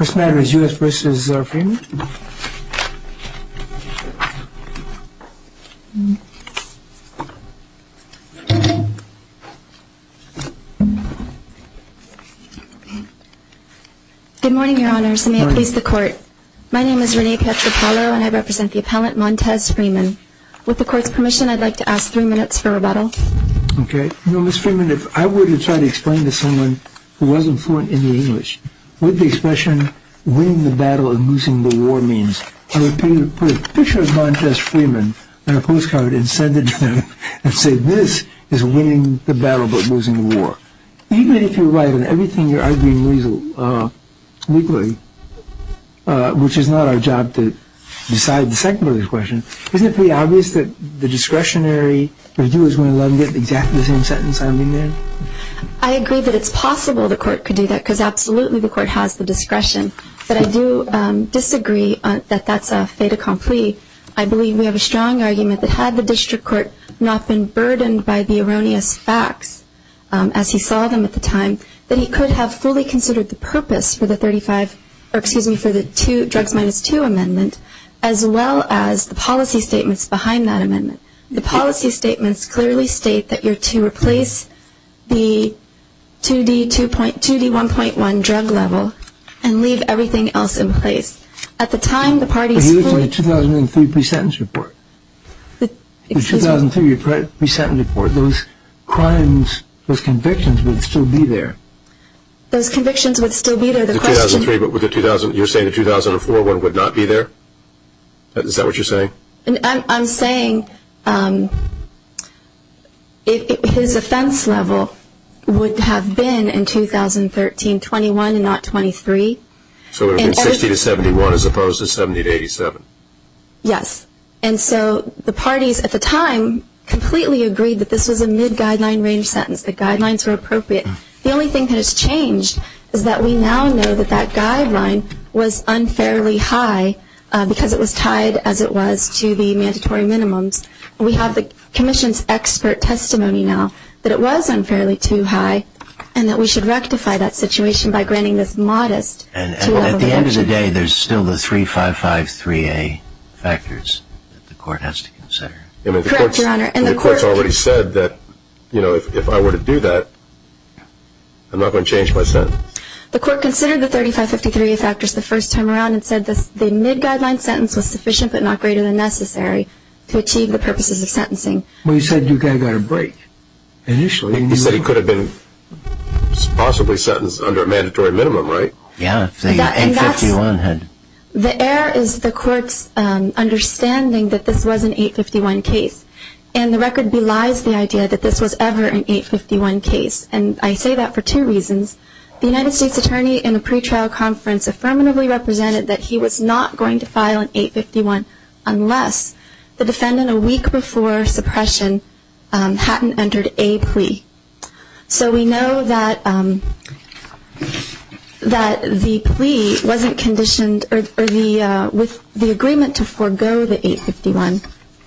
This matter is U.S. v. Freeman. Good morning, your honors, and may it please the court. My name is Renee Petropalo, and I represent the appellant Montez Freeman. With the court's permission, I'd like to ask three minutes for rebuttal. Okay. You know, Ms. Freeman, if I were to try to explain to someone who wasn't fluent in the English what the expression winning the battle and losing the war means, I would put a picture of Montez Freeman on a postcard and send it to them and say, this is winning the battle but losing the war. Even if you're right in everything you're arguing legally, which is not our job to decide the second part of the question, isn't it pretty obvious that the discretionary review is going to allow me to get exactly the same sentence I mean there? I agree that it's possible the court could do that because absolutely the court has the discretion. But I do disagree that that's a fait accompli. I believe we have a strong argument that had the district court not been burdened by the erroneous facts, as he saw them at the time, that he could have fully considered the purpose for the 35, or excuse me, for the two drugs minus two amendment, as well as the policy statements behind that amendment. The policy statements clearly state that you're to replace the 2D1.1 drug level and leave everything else in place. At the time the party's court. It was the 2003 pre-sentence report. The 2003 pre-sentence report, those crimes, those convictions would still be there. Those convictions would still be there. The 2003, but you're saying the 2004 one would not be there? Is that what you're saying? I'm saying his offense level would have been in 2013 21 and not 23. So it would have been 60 to 71 as opposed to 70 to 87. Yes. And so the parties at the time completely agreed that this was a mid-guideline range sentence. The guidelines were appropriate. The only thing that has changed is that we now know that that guideline was unfairly high because it was tied as it was to the mandatory minimums. We have the commission's expert testimony now that it was unfairly too high and that we should rectify that situation by granting this modest 2-level exemption. At the end of the day, there's still the 355-3A factors that the court has to consider. Correct, Your Honor. The court has already said that if I were to do that, I'm not going to change my sentence. The court considered the 355-3A factors the first time around and said the mid-guideline sentence was sufficient but not greater than necessary to achieve the purposes of sentencing. Well, you said you got a break initially. You said he could have been possibly sentenced under a mandatory minimum, right? Yes, the 851 had. The error is the court's understanding that this was an 851 case and the record belies the idea that this was ever an 851 case. And I say that for two reasons. The United States attorney in a pretrial conference affirmatively represented that he was not going to file an 851 unless the defendant a week before suppression hadn't entered a plea. So we know that the plea, with the agreement to forego the 851,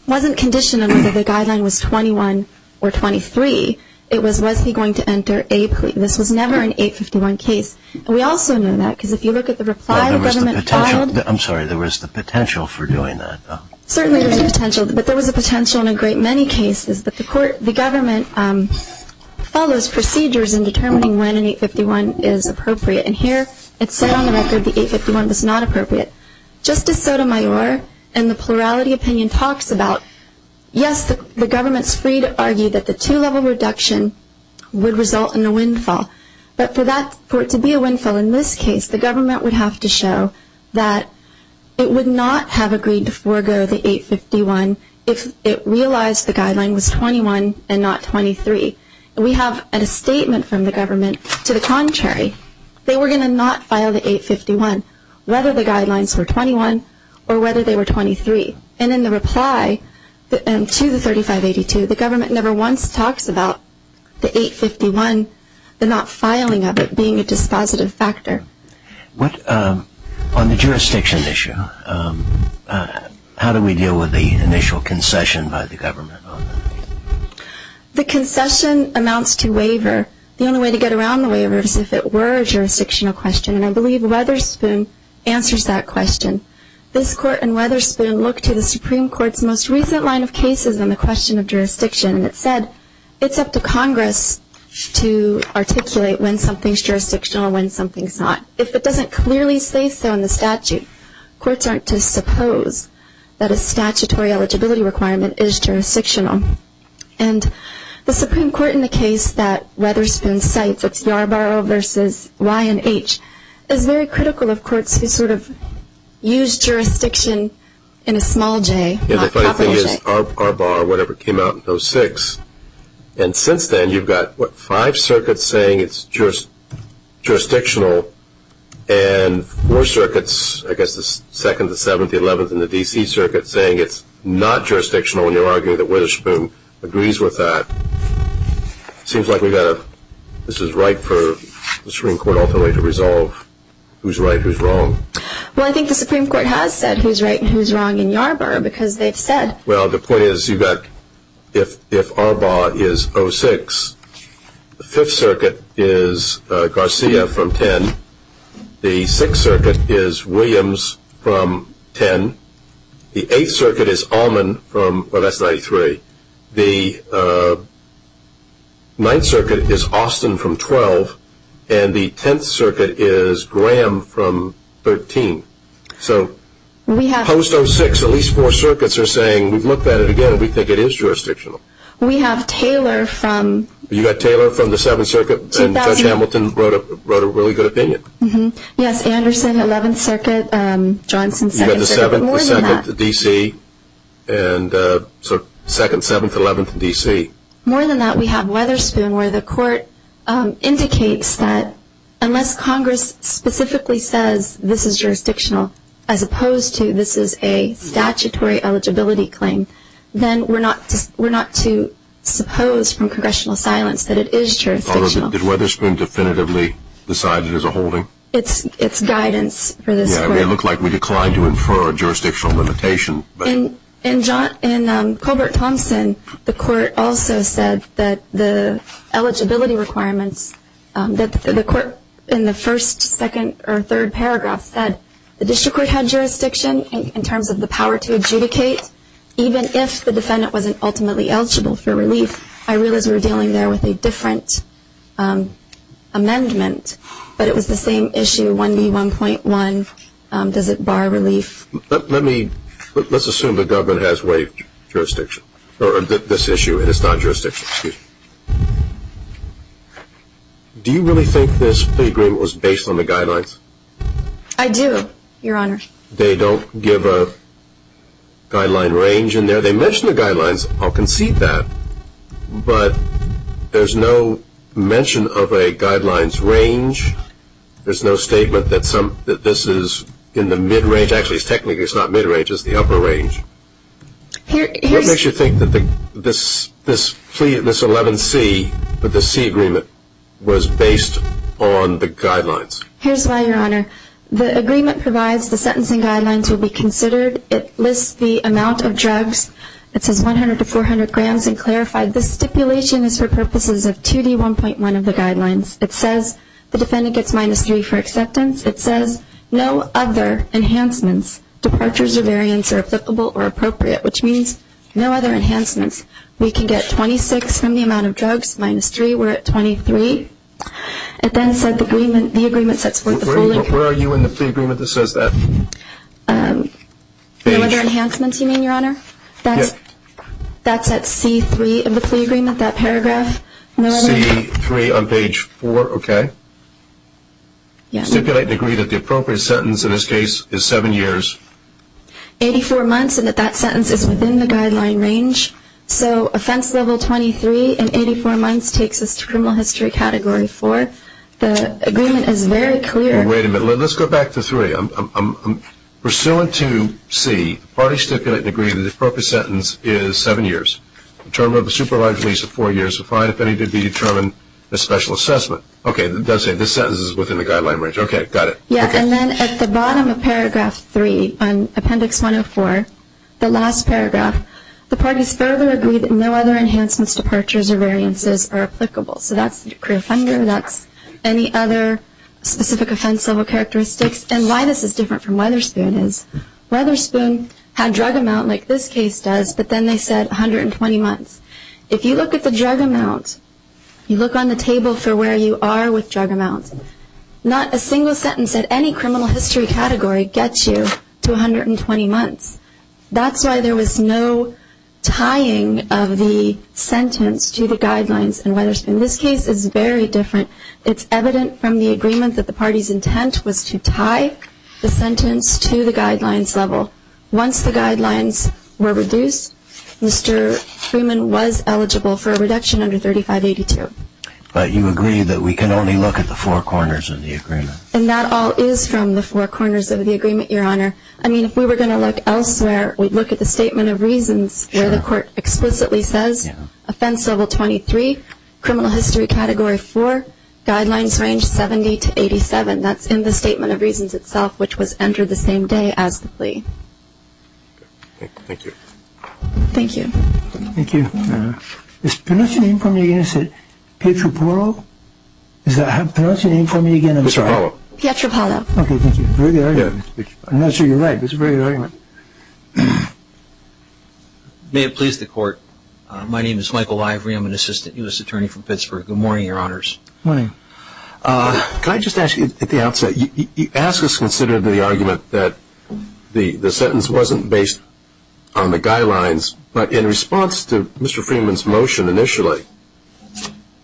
wasn't conditioned on whether the guideline was 21 or 23. It was, was he going to enter a plea? This was never an 851 case. We also know that because if you look at the reply the government filed. I'm sorry, there was the potential for doing that. Certainly there was a potential, but there was a potential in a great many cases. But the government follows procedures in determining when an 851 is appropriate. And here it said on the record the 851 was not appropriate. Justice Sotomayor in the plurality opinion talks about, yes, the government's free to argue that the two-level reduction would result in a windfall. But for that, for it to be a windfall in this case, the government would have to show that it would not have agreed to forego the 851 if it realized the guideline was 21 and not 23. And we have a statement from the government to the contrary. They were going to not file the 851, whether the guidelines were 21 or whether they were 23. And in the reply to the 3582, the government never once talks about the 851, the not filing of it being a dispositive factor. On the jurisdiction issue, how do we deal with the initial concession by the government? The concession amounts to waiver. The only way to get around the waiver is if it were a jurisdictional question. And I believe Wetherspoon answers that question. This Court in Wetherspoon looked to the Supreme Court's most recent line of cases on the question of jurisdiction, and it said it's up to Congress to articulate when something's jurisdictional and when something's not. If it doesn't clearly say so in the statute, courts aren't to suppose that a statutory eligibility requirement is jurisdictional. And the Supreme Court in the case that Wetherspoon cites, it's Yarborough v. Ryan H., is very critical of courts who sort of use jurisdiction in a small J, not capital J. Yeah, the funny thing is, Yarborough or whatever came out in 2006, and since then you've got, what, five circuits saying it's jurisdictional and four circuits, I guess the 2nd, the 7th, the 11th, and the D.C. circuit, saying it's not jurisdictional, and you're arguing that Wetherspoon agrees with that. It seems like we've got to, this is right for the Supreme Court ultimately to resolve who's right, who's wrong. Well, I think the Supreme Court has said who's right and who's wrong in Yarborough because they've said. Well, the point is you've got, if Arbaugh is 06, the 5th circuit is Garcia from 10, the 6th circuit is Williams from 10, the 8th circuit is Allman from, well, that's 93, the 9th circuit is Austin from 12, and the 10th circuit is Graham from 13. So post 06, at least four circuits are saying, we've looked at it again, we think it is jurisdictional. We have Taylor from... You've got Taylor from the 7th circuit, and Judge Hamilton wrote a really good opinion. Yes, Anderson, 11th circuit, Johnson, 2nd circuit, but more than that. You've got the 7th, the 2nd, the D.C., and so 2nd, 7th, 11th, and D.C. More than that, we have Wetherspoon where the court indicates that unless Congress specifically says this is jurisdictional as opposed to this is a statutory eligibility claim, then we're not to suppose from Congressional silence that it is jurisdictional. Did Wetherspoon definitively decide it is a holding? It's guidance for this court. Yes, it may look like we declined to infer a jurisdictional limitation. In Colbert-Thompson, the court also said that the eligibility requirements, that the court in the first, second, or third paragraph said the district court had jurisdiction in terms of the power to adjudicate even if the defendant wasn't ultimately eligible for relief. I realize we were dealing there with a different amendment, but it was the same issue, 1B.1.1. Does it bar relief? Let's assume the government has waived this issue and it's not jurisdictional. Do you really think this plea agreement was based on the guidelines? I do, Your Honor. They don't give a guideline range in there. They mention the guidelines. I'll concede that. But there's no mention of a guidelines range. There's no statement that this is in the mid-range. Actually, technically, it's not mid-range. It's the upper range. What makes you think that this 11C with the C agreement was based on the guidelines? Here's why, Your Honor. The agreement provides the sentencing guidelines will be considered. It lists the amount of drugs. It says 100 to 400 grams and clarified this stipulation is for purposes of 2D1.1 of the guidelines. It says the defendant gets minus 3 for acceptance. It says no other enhancements, departures, or variants are applicable or appropriate, which means no other enhancements. We can get 26 from the amount of drugs minus 3. We're at 23. It then said the agreement sets forth the full. Where are you in the plea agreement that says that? No other enhancements, you mean, Your Honor? That's at C3 of the plea agreement, that paragraph. C3 on page 4, okay. Stipulate and agree that the appropriate sentence in this case is seven years. Eighty-four months and that that sentence is within the guideline range. So offense level 23 and 84 months takes us to criminal history category 4. The agreement is very clear. Wait a minute. Let's go back to 3. Pursuant to C, the parties stipulate and agree that the appropriate sentence is seven years. The term of the supervised release of four years is fine. If any did be determined as special assessment. Okay, it does say this sentence is within the guideline range. Okay, got it. Yeah, and then at the bottom of paragraph 3 on appendix 104, the last paragraph, the parties further agree that no other enhancements, departures, or variances are applicable. So that's the decree of hunger. That's any other specific offense level characteristics. And why this is different from Weatherspoon is Weatherspoon had drug amount like this case does, but then they said 120 months. If you look at the drug amount, you look on the table for where you are with drug amounts, not a single sentence at any criminal history category gets you to 120 months. That's why there was no tying of the sentence to the guidelines in Weatherspoon. This case is very different. It's evident from the agreement that the party's intent was to tie the sentence to the guidelines level. Once the guidelines were reduced, Mr. Freeman was eligible for a reduction under 3582. But you agree that we can only look at the four corners of the agreement. And that all is from the four corners of the agreement, Your Honor. I mean, if we were going to look elsewhere, we'd look at the statement of reasons where the court explicitly says offense level 23, criminal history category 4, guidelines range 70 to 87. That's in the statement of reasons itself, which was entered the same day as the plea. Thank you. Thank you. Thank you. Is that how you pronounce your name for me again? I'm sorry. Pietropalo. Pietropalo. Okay, thank you. I'm not sure you're right. That's a very good argument. May it please the Court. My name is Michael Lively. I'm an assistant U.S. attorney from Pittsburgh. Good morning, Your Honors. Good morning. Can I just ask you at the outset, you asked us to consider the argument that the sentence wasn't based on the guidelines, but in response to Mr. Freeman's motion initially,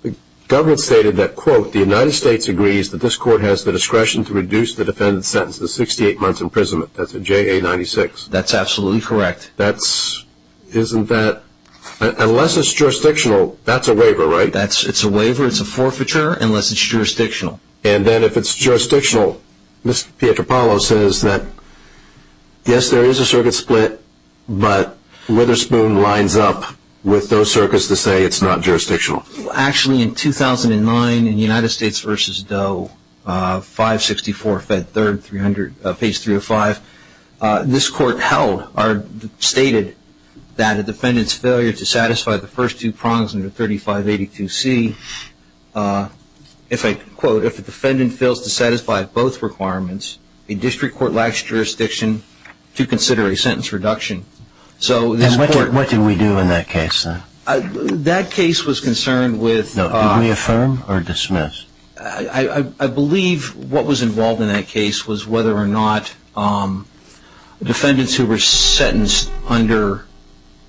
the government stated that, quote, the United States agrees that this court has the discretion to reduce the defendant's sentence to 68 months imprisonment. That's a JA-96. That's absolutely correct. Isn't that unless it's jurisdictional, that's a waiver, right? It's a waiver. It's a forfeiture unless it's jurisdictional. And then if it's jurisdictional, Mr. Pietropalo says that, yes, there is a circuit split, but Witherspoon lines up with those circuits to say it's not jurisdictional. Actually, in 2009, in United States v. Doe, 564 Fed 300, page 305, this court held or stated that a defendant's failure to satisfy the first two prongs under 3582C, if I quote, if a defendant fails to satisfy both requirements, a district court lacks jurisdiction to consider a sentence reduction. So this court What did we do in that case then? That case was concerned with Did we affirm or dismiss? I believe what was involved in that case was whether or not defendants who were sentenced under,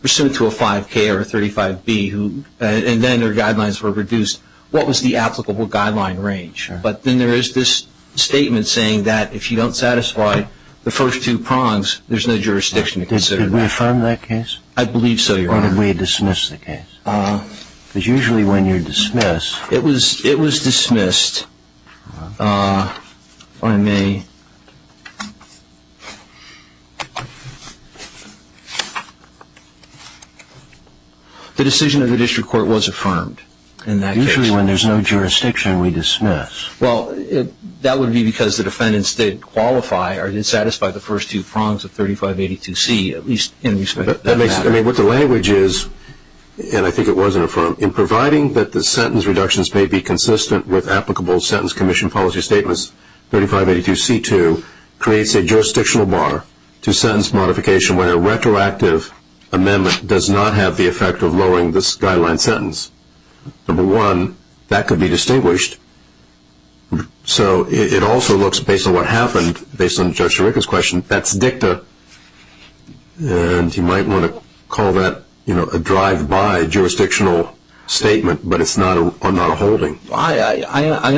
pursuant to a 5K or a 35B, and then their guidelines were reduced, what was the applicable guideline range. But then there is this statement saying that if you don't satisfy the first two prongs, there's no jurisdiction to consider that. Did we affirm that case? I believe so, Your Honor. Or did we dismiss the case? Because usually when you dismiss Yes. It was dismissed. If I may. The decision of the district court was affirmed in that case. Usually when there's no jurisdiction we dismiss. Well, that would be because the defendants didn't qualify or didn't satisfy the first two prongs of 3582C, at least in respect to that matter. I mean, what the language is, and I think it wasn't affirmed, in providing that the sentence reductions may be consistent with applicable sentence commission policy statements, 3582C2 creates a jurisdictional bar to sentence modification when a retroactive amendment does not have the effect of lowering this guideline sentence. Number one, that could be distinguished. So it also looks, based on what happened, based on Judge Chirica's question, that's dicta. And you might want to call that a drive-by jurisdictional statement, but it's not a holding. I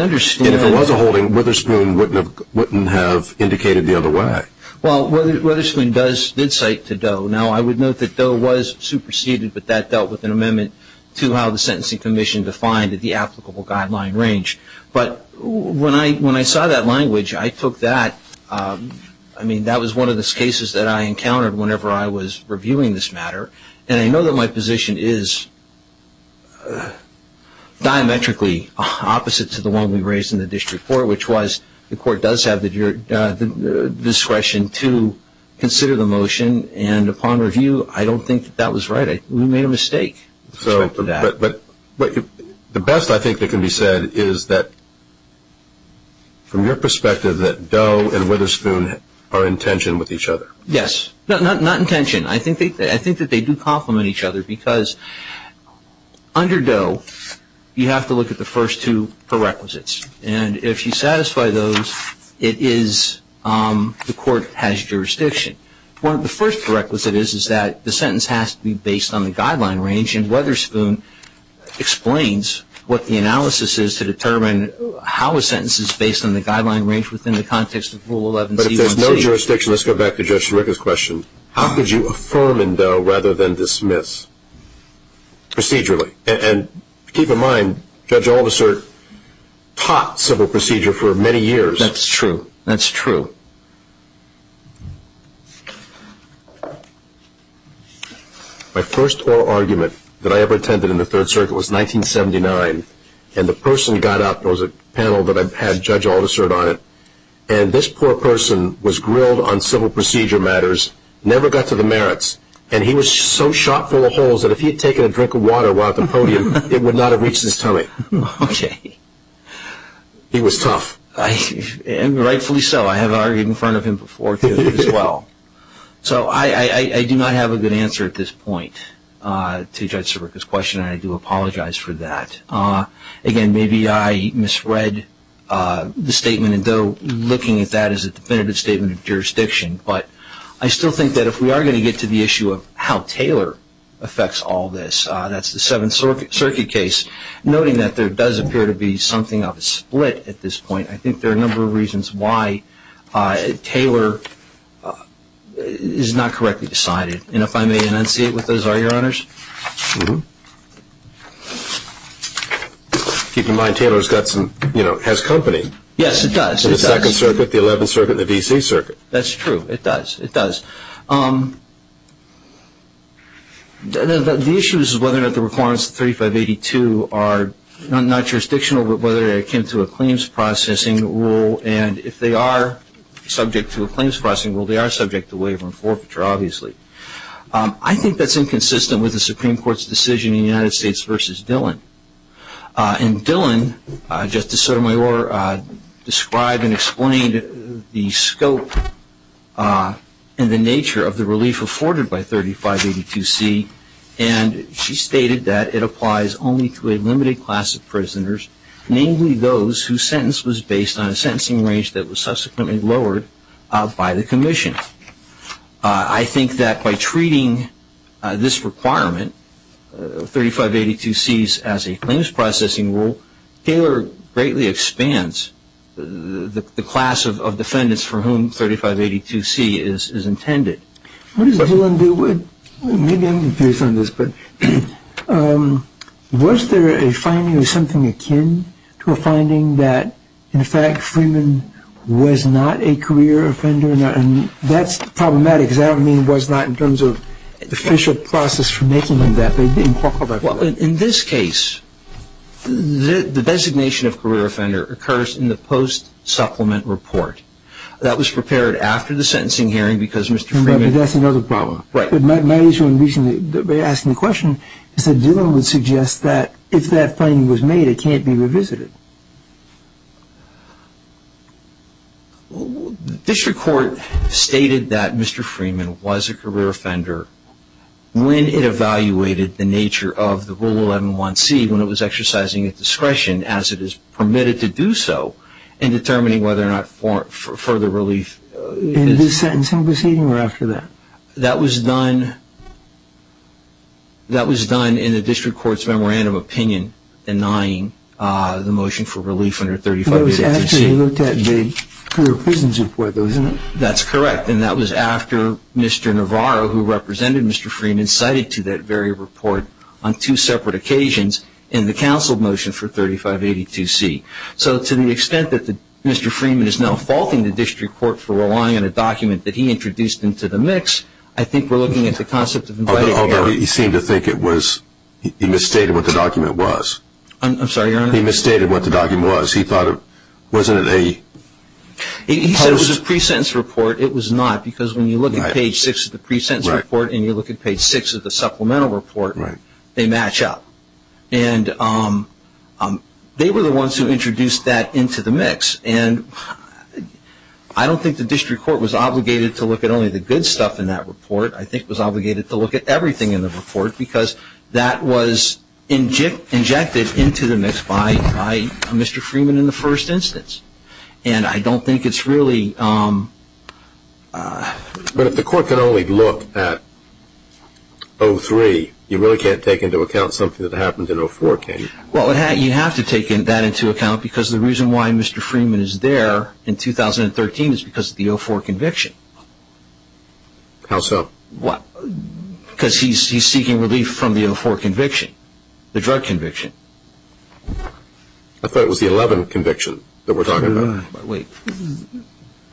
understand. And if it was a holding, Witherspoon wouldn't have indicated the other way. Well, Witherspoon did cite to Doe. Now, I would note that Doe was superseded, but that dealt with an amendment to how the sentencing commission defined the applicable guideline range. But when I saw that language, I took that. I mean, that was one of the cases that I encountered whenever I was reviewing this matter. And I know that my position is diametrically opposite to the one we raised in the district court, which was the court does have the discretion to consider the motion. And upon review, I don't think that that was right. We made a mistake. But the best, I think, that can be said is that, from your perspective, that Doe and Witherspoon are in tension with each other. Yes. Not in tension. I think that they do complement each other because under Doe, you have to look at the first two prerequisites. And if you satisfy those, it is the court has jurisdiction. One of the first prerequisites is that the sentence has to be based on the guideline range, and Witherspoon explains what the analysis is to determine how a sentence is based on the guideline range within the context of Rule 11C1C. But if there's no jurisdiction, let's go back to Judge Stryka's question. How could you affirm in Doe rather than dismiss procedurally? And keep in mind, Judge Aldersert taught civil procedure for many years. That's true. That's true. My first oral argument that I ever attended in the Third Circuit was 1979. And the person got up, there was a panel that I had Judge Aldersert on it, and this poor person was grilled on civil procedure matters, never got to the merits, and he was so shot full of holes that if he had taken a drink of water while at the podium, it would not have reached his tummy. Okay. He was tough. And rightfully so. I have argued in front of him before, too, as well. So I do not have a good answer at this point to Judge Stryka's question, and I do apologize for that. Again, maybe I misread the statement in Doe looking at that as a definitive statement of jurisdiction, but I still think that if we are going to get to the issue of how Taylor affects all this, that's the Seventh Circuit case. Noting that there does appear to be something of a split at this point, I think there are a number of reasons why Taylor is not correctly decided. And if I may enunciate what those are, Your Honors. Keep in mind, Taylor has company. Yes, it does. In the Second Circuit, the Eleventh Circuit, and the D.C. Circuit. That's true. It does. It does. The issue is whether or not the requirements of 3582 are not jurisdictional, but whether they're akin to a claims processing rule. And if they are subject to a claims processing rule, they are subject to waiver and forfeiture, obviously. I think that's inconsistent with the Supreme Court's decision in the United States versus Dillon. And Dillon, Justice Sotomayor, described and explained the scope and the nature of the relief afforded by 3582C, and she stated that it applies only to a limited class of prisoners, namely those whose sentence was based on a sentencing range that was subsequently lowered by the commission. I think that by treating this requirement, 3582C, as a claims processing rule, Taylor greatly expands the class of defendants for whom 3582C is intended. What does Dillon do with it? Maybe I'm confused on this, but was there a finding or something akin to a finding that, in fact, Mr. Freeman was not a career offender? And that's problematic, because I don't mean was not in terms of official process for making him that. Well, in this case, the designation of career offender occurs in the post-supplement report. That was prepared after the sentencing hearing because Mr. Freeman... But that's another problem. Right. But my issue, and recently they asked me a question, is that Dillon would suggest that if that finding was made, it can't be revisited. District Court stated that Mr. Freeman was a career offender when it evaluated the nature of the Rule 111C when it was exercising its discretion, as it is permitted to do so, in determining whether or not further relief... In this sentencing proceeding or after that? That was done in the District Court's memorandum of opinion denying the motion for relief under 3582C. It was after he looked at the career prisons report, though, isn't it? That's correct, and that was after Mr. Navarro, who represented Mr. Freeman, cited to that very report on two separate occasions in the counsel motion for 3582C. So to the extent that Mr. Freeman is now faulting the District Court for relying on a document that he introduced into the mix, I think we're looking at the concept of... Although he seemed to think it was... he misstated what the document was. I'm sorry, Your Honor? He misstated what the document was. He thought it wasn't a... He said it was a pre-sentence report. It was not, because when you look at page 6 of the pre-sentence report and you look at page 6 of the supplemental report, they match up. And they were the ones who introduced that into the mix, and I don't think the District Court was obligated to look at only the good stuff in that report. I think it was obligated to look at everything in the report, because that was injected into the mix by Mr. Freeman in the first instance. And I don't think it's really... But if the Court can only look at 03, you really can't take into account something that happened in 04, can you? Well, you have to take that into account, because the reason why Mr. Freeman is there in 2013 is because of the 04 conviction. How so? Because he's seeking relief from the 04 conviction, the drug conviction. I thought it was the 11 conviction that we're talking about. He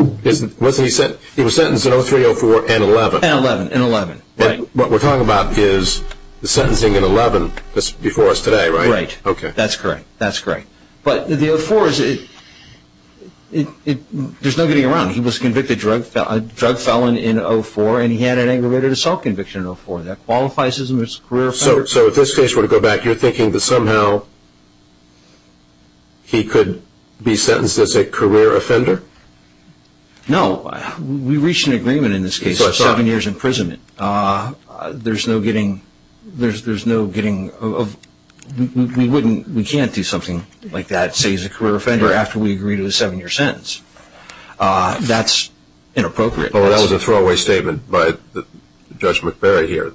was sentenced in 03, 04, and 11. And 11. And what we're talking about is the sentencing in 11 that's before us today, right? Right. That's correct. That's correct. But the 04, there's no getting around it. He was a convicted drug felon in 04, and he had an aggravated assault conviction in 04. That qualifies him as a career offender. So if this case were to go back, you're thinking that somehow he could be sentenced as a career offender? No. We reached an agreement in this case of seven years' imprisonment. There's no getting of – we can't do something like that, say he's a career offender, after we agree to a seven-year sentence. That's inappropriate. Well, that was a throwaway statement by Judge McBarry here.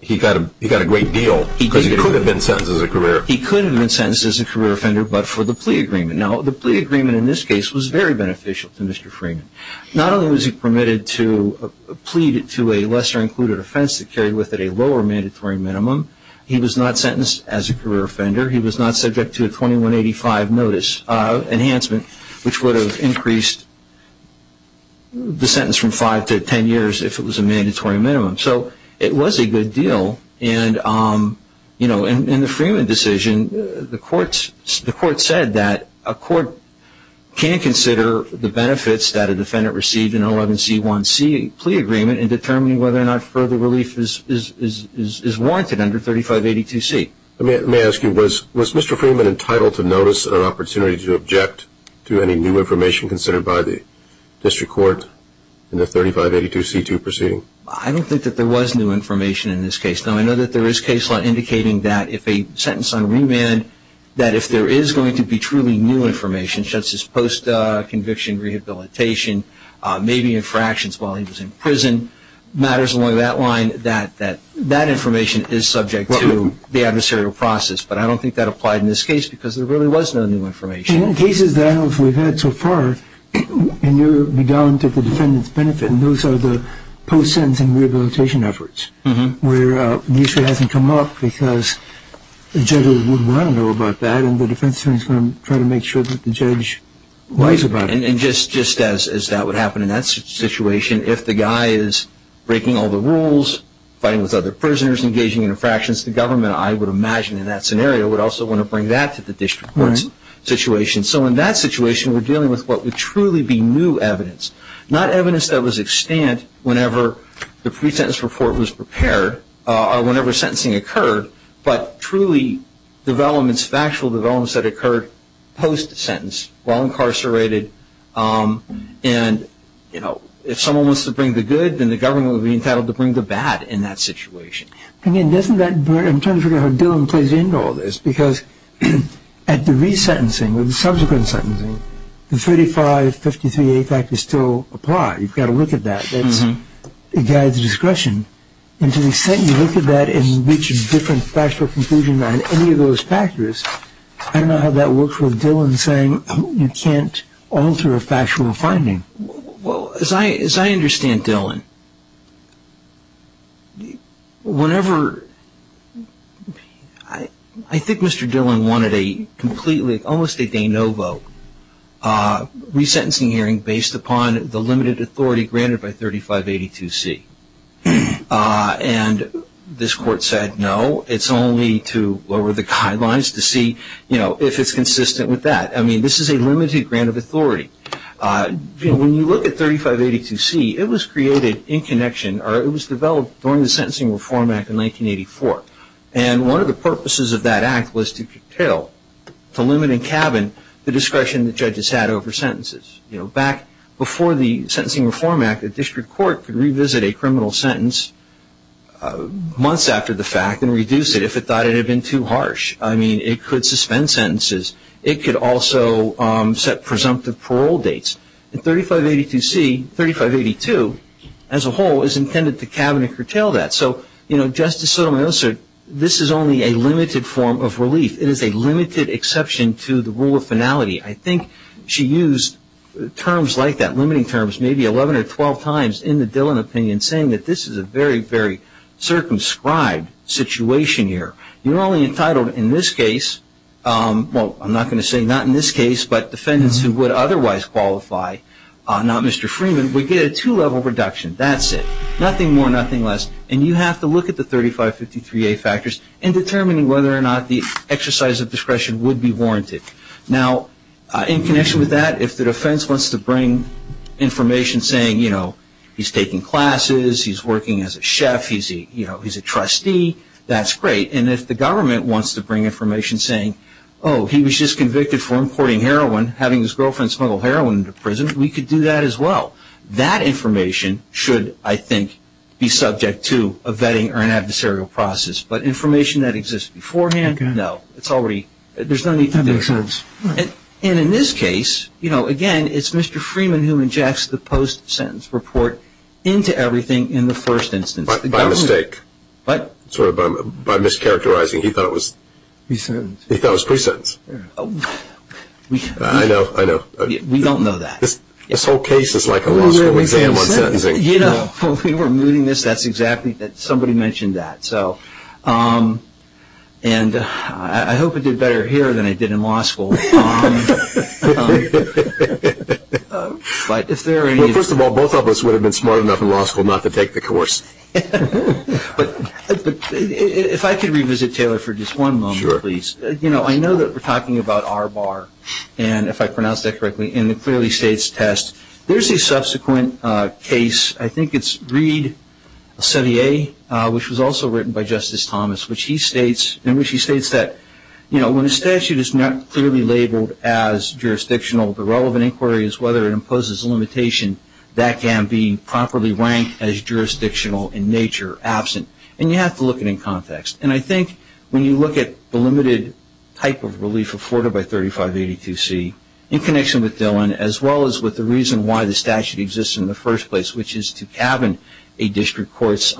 He got a great deal, because he could have been sentenced as a career offender. He could have been sentenced as a career offender, but for the plea agreement. Now, the plea agreement in this case was very beneficial to Mr. Freeman. Not only was he permitted to plead to a lesser-included offense that carried with it a lower mandatory minimum, he was not sentenced as a career offender. He was not subject to a 2185 notice enhancement, which would have increased the sentence from five to ten years if it was a mandatory minimum. So it was a good deal. And, you know, in the Freeman decision, the court said that a court can consider the benefits that a defendant received in an 11C1C plea agreement in determining whether or not further relief is warranted under 3582C. May I ask you, was Mr. Freeman entitled to notice or opportunity to object to any new information considered by the district court in the 3582C2 proceeding? I don't think that there was new information in this case. Now, I know that there is case law indicating that if a sentence on remand, that if there is going to be truly new information, such as post-conviction rehabilitation, maybe infractions while he was in prison, matters along that line, that that information is subject to the adversarial process. But I don't think that applied in this case, because there really was no new information. And in cases that we've had so far, and you're down to the defendant's benefit, and those are the post-sentencing rehabilitation efforts, where the issue hasn't come up because the judge wouldn't want to know about that and the defense attorney is going to try to make sure that the judge knows about it. And just as that would happen in that situation, if the guy is breaking all the rules, fighting with other prisoners, engaging in infractions, the government, I would imagine, in that scenario, would also want to bring that to the district court's situation. So in that situation, we're dealing with what would truly be new evidence, not evidence that was extant whenever the pre-sentence report was prepared or whenever sentencing occurred, but truly developments, factual developments that occurred post-sentence, while incarcerated. And, you know, if someone wants to bring the good, then the government would be entitled to bring the bad in that situation. I mean, doesn't that bring – I'm trying to figure out how Dillon plays into all this, because at the re-sentencing or the subsequent sentencing, the 3553A fact is still applied. You've got to look at that. It guides discretion. And to the extent you look at that and reach a different factual conclusion on any of those factors, I don't know how that works with Dillon saying you can't alter a factual finding. Well, as I understand Dillon, whenever – I think Mr. Dillon wanted a completely – almost a de novo re-sentencing hearing based upon the limited authority granted by 3582C. And this court said no, it's only to lower the guidelines to see, you know, if it's consistent with that. I mean, this is a limited grant of authority. You know, when you look at 3582C, it was created in connection – or it was developed during the Sentencing Reform Act in 1984. And one of the purposes of that act was to curtail, to limit in cabin, the discretion that judges had over sentences. You know, back before the Sentencing Reform Act, the district court could revisit a criminal sentence months after the fact and reduce it if it thought it had been too harsh. I mean, it could suspend sentences. It could also set presumptive parole dates. And 3582C, 3582, as a whole, is intended to cabin and curtail that. So, you know, Justice Sotomayor said this is only a limited form of relief. It is a limited exception to the rule of finality. I think she used terms like that, limiting terms, maybe 11 or 12 times in the Dillon opinion, saying that this is a very, very circumscribed situation here. You're only entitled in this case – well, I'm not going to say not in this case, but defendants who would otherwise qualify, not Mr. Freeman, would get a two-level reduction. That's it. Nothing more, nothing less. And you have to look at the 3553A factors in determining whether or not the exercise of discretion would be warranted. Now, in connection with that, if the defense wants to bring information saying, you know, he's taking classes, he's working as a chef, he's a trustee, that's great. And if the government wants to bring information saying, oh, he was just convicted for importing heroin, having his girlfriend smuggle heroin into prison, we could do that as well. That information should, I think, be subject to a vetting or an adversarial process. But information that exists beforehand, no. It's already – there's no need to make sense. And in this case, you know, again, it's Mr. Freeman who injects the post-sentence report into everything in the first instance. By mistake. What? Sort of by mischaracterizing. He thought it was – Pre-sentence. He thought it was pre-sentence. I know, I know. We don't know that. This whole case is like a law school exam on sentencing. You know, when we were moving this, that's exactly – somebody mentioned that. And I hope I did better here than I did in law school. But if there are any – Well, first of all, both of us would have been smart enough in law school not to take the course. But if I could revisit Taylor for just one moment, please. Sure. You know, I know that we're talking about R-bar, and if I pronounced that correctly, in the clearly states test. There's a subsequent case. I think it's Reed, 70A, which was also written by Justice Thomas, in which he states that, you know, when a statute is not clearly labeled as jurisdictional, the relevant inquiry is whether it imposes a limitation that can be properly ranked as jurisdictional in nature absent. And you have to look at it in context. And I think when you look at the limited type of relief afforded by 3582C in connection with Dillon, as well as with the reason why the statute exists in the first place, which is to cabin a district court's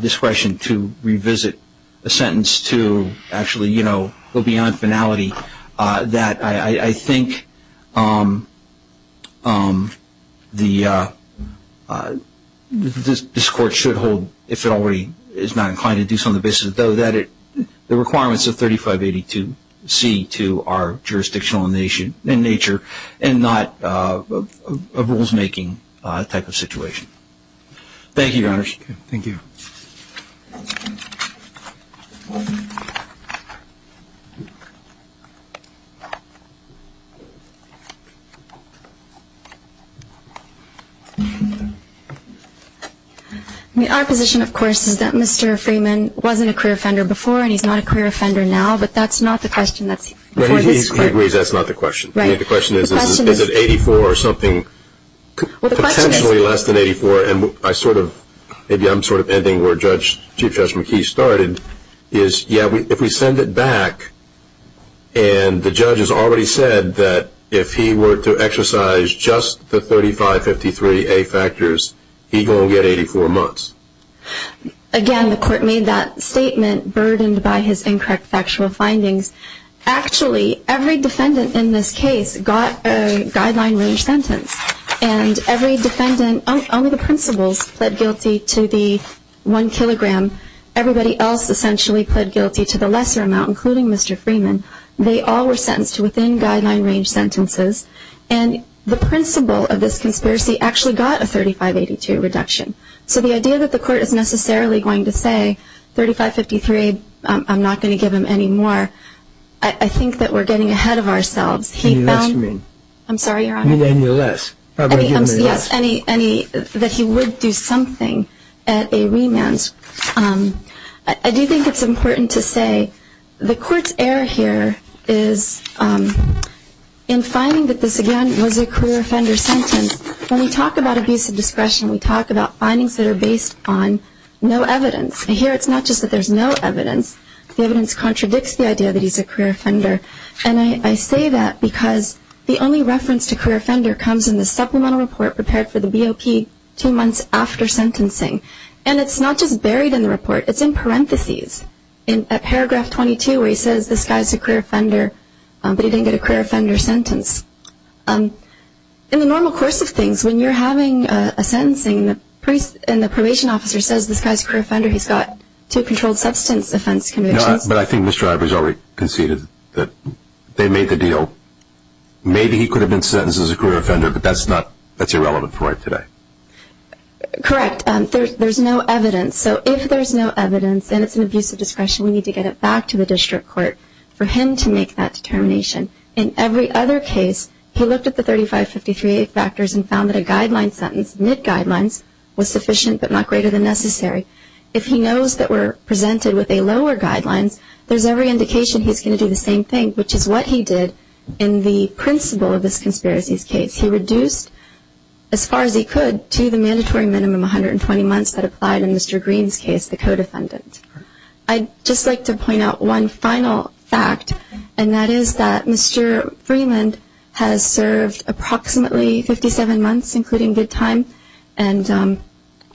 discretion to revisit a sentence to actually, you know, this court should hold, if it already is not inclined to do so on the basis, though, that the requirements of 3582C to our jurisdictional in nature and not a rules-making type of situation. Thank you, Your Honors. Thank you. Our position, of course, is that Mr. Freeman wasn't a career offender before and he's not a career offender now, but that's not the question that's before this court. He agrees that's not the question. Right. I mean, the question is, is it 84 or something, potentially less than 84? And I sort of, maybe I'm sort of ending where Chief Judge McKee started, is, yeah, if we send it back, and the judge has already said that if he were to exercise just the 3553A factors, he's going to get 84 months. Again, the court made that statement burdened by his incorrect factual findings. Actually, every defendant in this case got a guideline-range sentence, and every defendant, only the principals pled guilty to the one kilogram. Everybody else essentially pled guilty to the lesser amount, including Mr. Freeman. They all were sentenced to within guideline-range sentences, and the principal of this conspiracy actually got a 3582 reduction. So the idea that the court is necessarily going to say, 3553, I'm not going to give him any more, I think that we're getting ahead of ourselves. Any less you mean? I'm sorry, Your Honor. You mean any less? Yes, any that he would do something at a remand. I do think it's important to say the court's error here is in finding that this, again, was a career offender sentence. When we talk about abusive discretion, we talk about findings that are based on no evidence. Here, it's not just that there's no evidence. The evidence contradicts the idea that he's a career offender, and I say that because the only reference to career offender comes in the supplemental report prepared for the BOP two months after sentencing. And it's not just buried in the report. It's in parentheses in paragraph 22 where he says this guy's a career offender, but he didn't get a career offender sentence. In the normal course of things, when you're having a sentencing and the probation officer says this guy's a career offender, he's got two controlled substance offense convictions. No, but I think Mr. Ivers already conceded that they made the deal. Maybe he could have been sentenced as a career offender, but that's irrelevant for today. Correct. There's no evidence. So if there's no evidence and it's an abusive discretion, we need to get it back to the district court for him to make that determination. In every other case, he looked at the 3553A factors and found that a guideline sentence, mid-guidelines, was sufficient but not greater than necessary. If he knows that we're presented with a lower guidelines, there's every indication he's going to do the same thing, which is what he did in the principle of this conspiracy's case. He reduced, as far as he could, to the mandatory minimum 120 months that applied in Mr. Green's case, the co-defendant. I'd just like to point out one final fact, and that is that Mr. Freeland has served approximately 57 months, including good time, and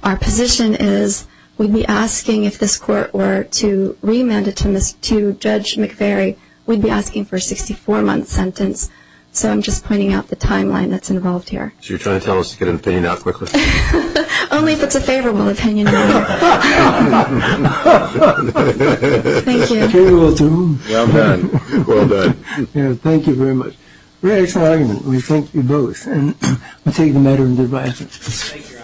our position is we'd be asking if this court were to remand it to Judge McVeary, we'd be asking for a 64-month sentence. So I'm just pointing out the timeline that's involved here. So you're trying to tell us to get an opinion out quickly? Only if it's a favorable opinion. Thank you. Well done. Well done. Thank you very much. We're very excited. We thank you both. And we take the matter into the right hands.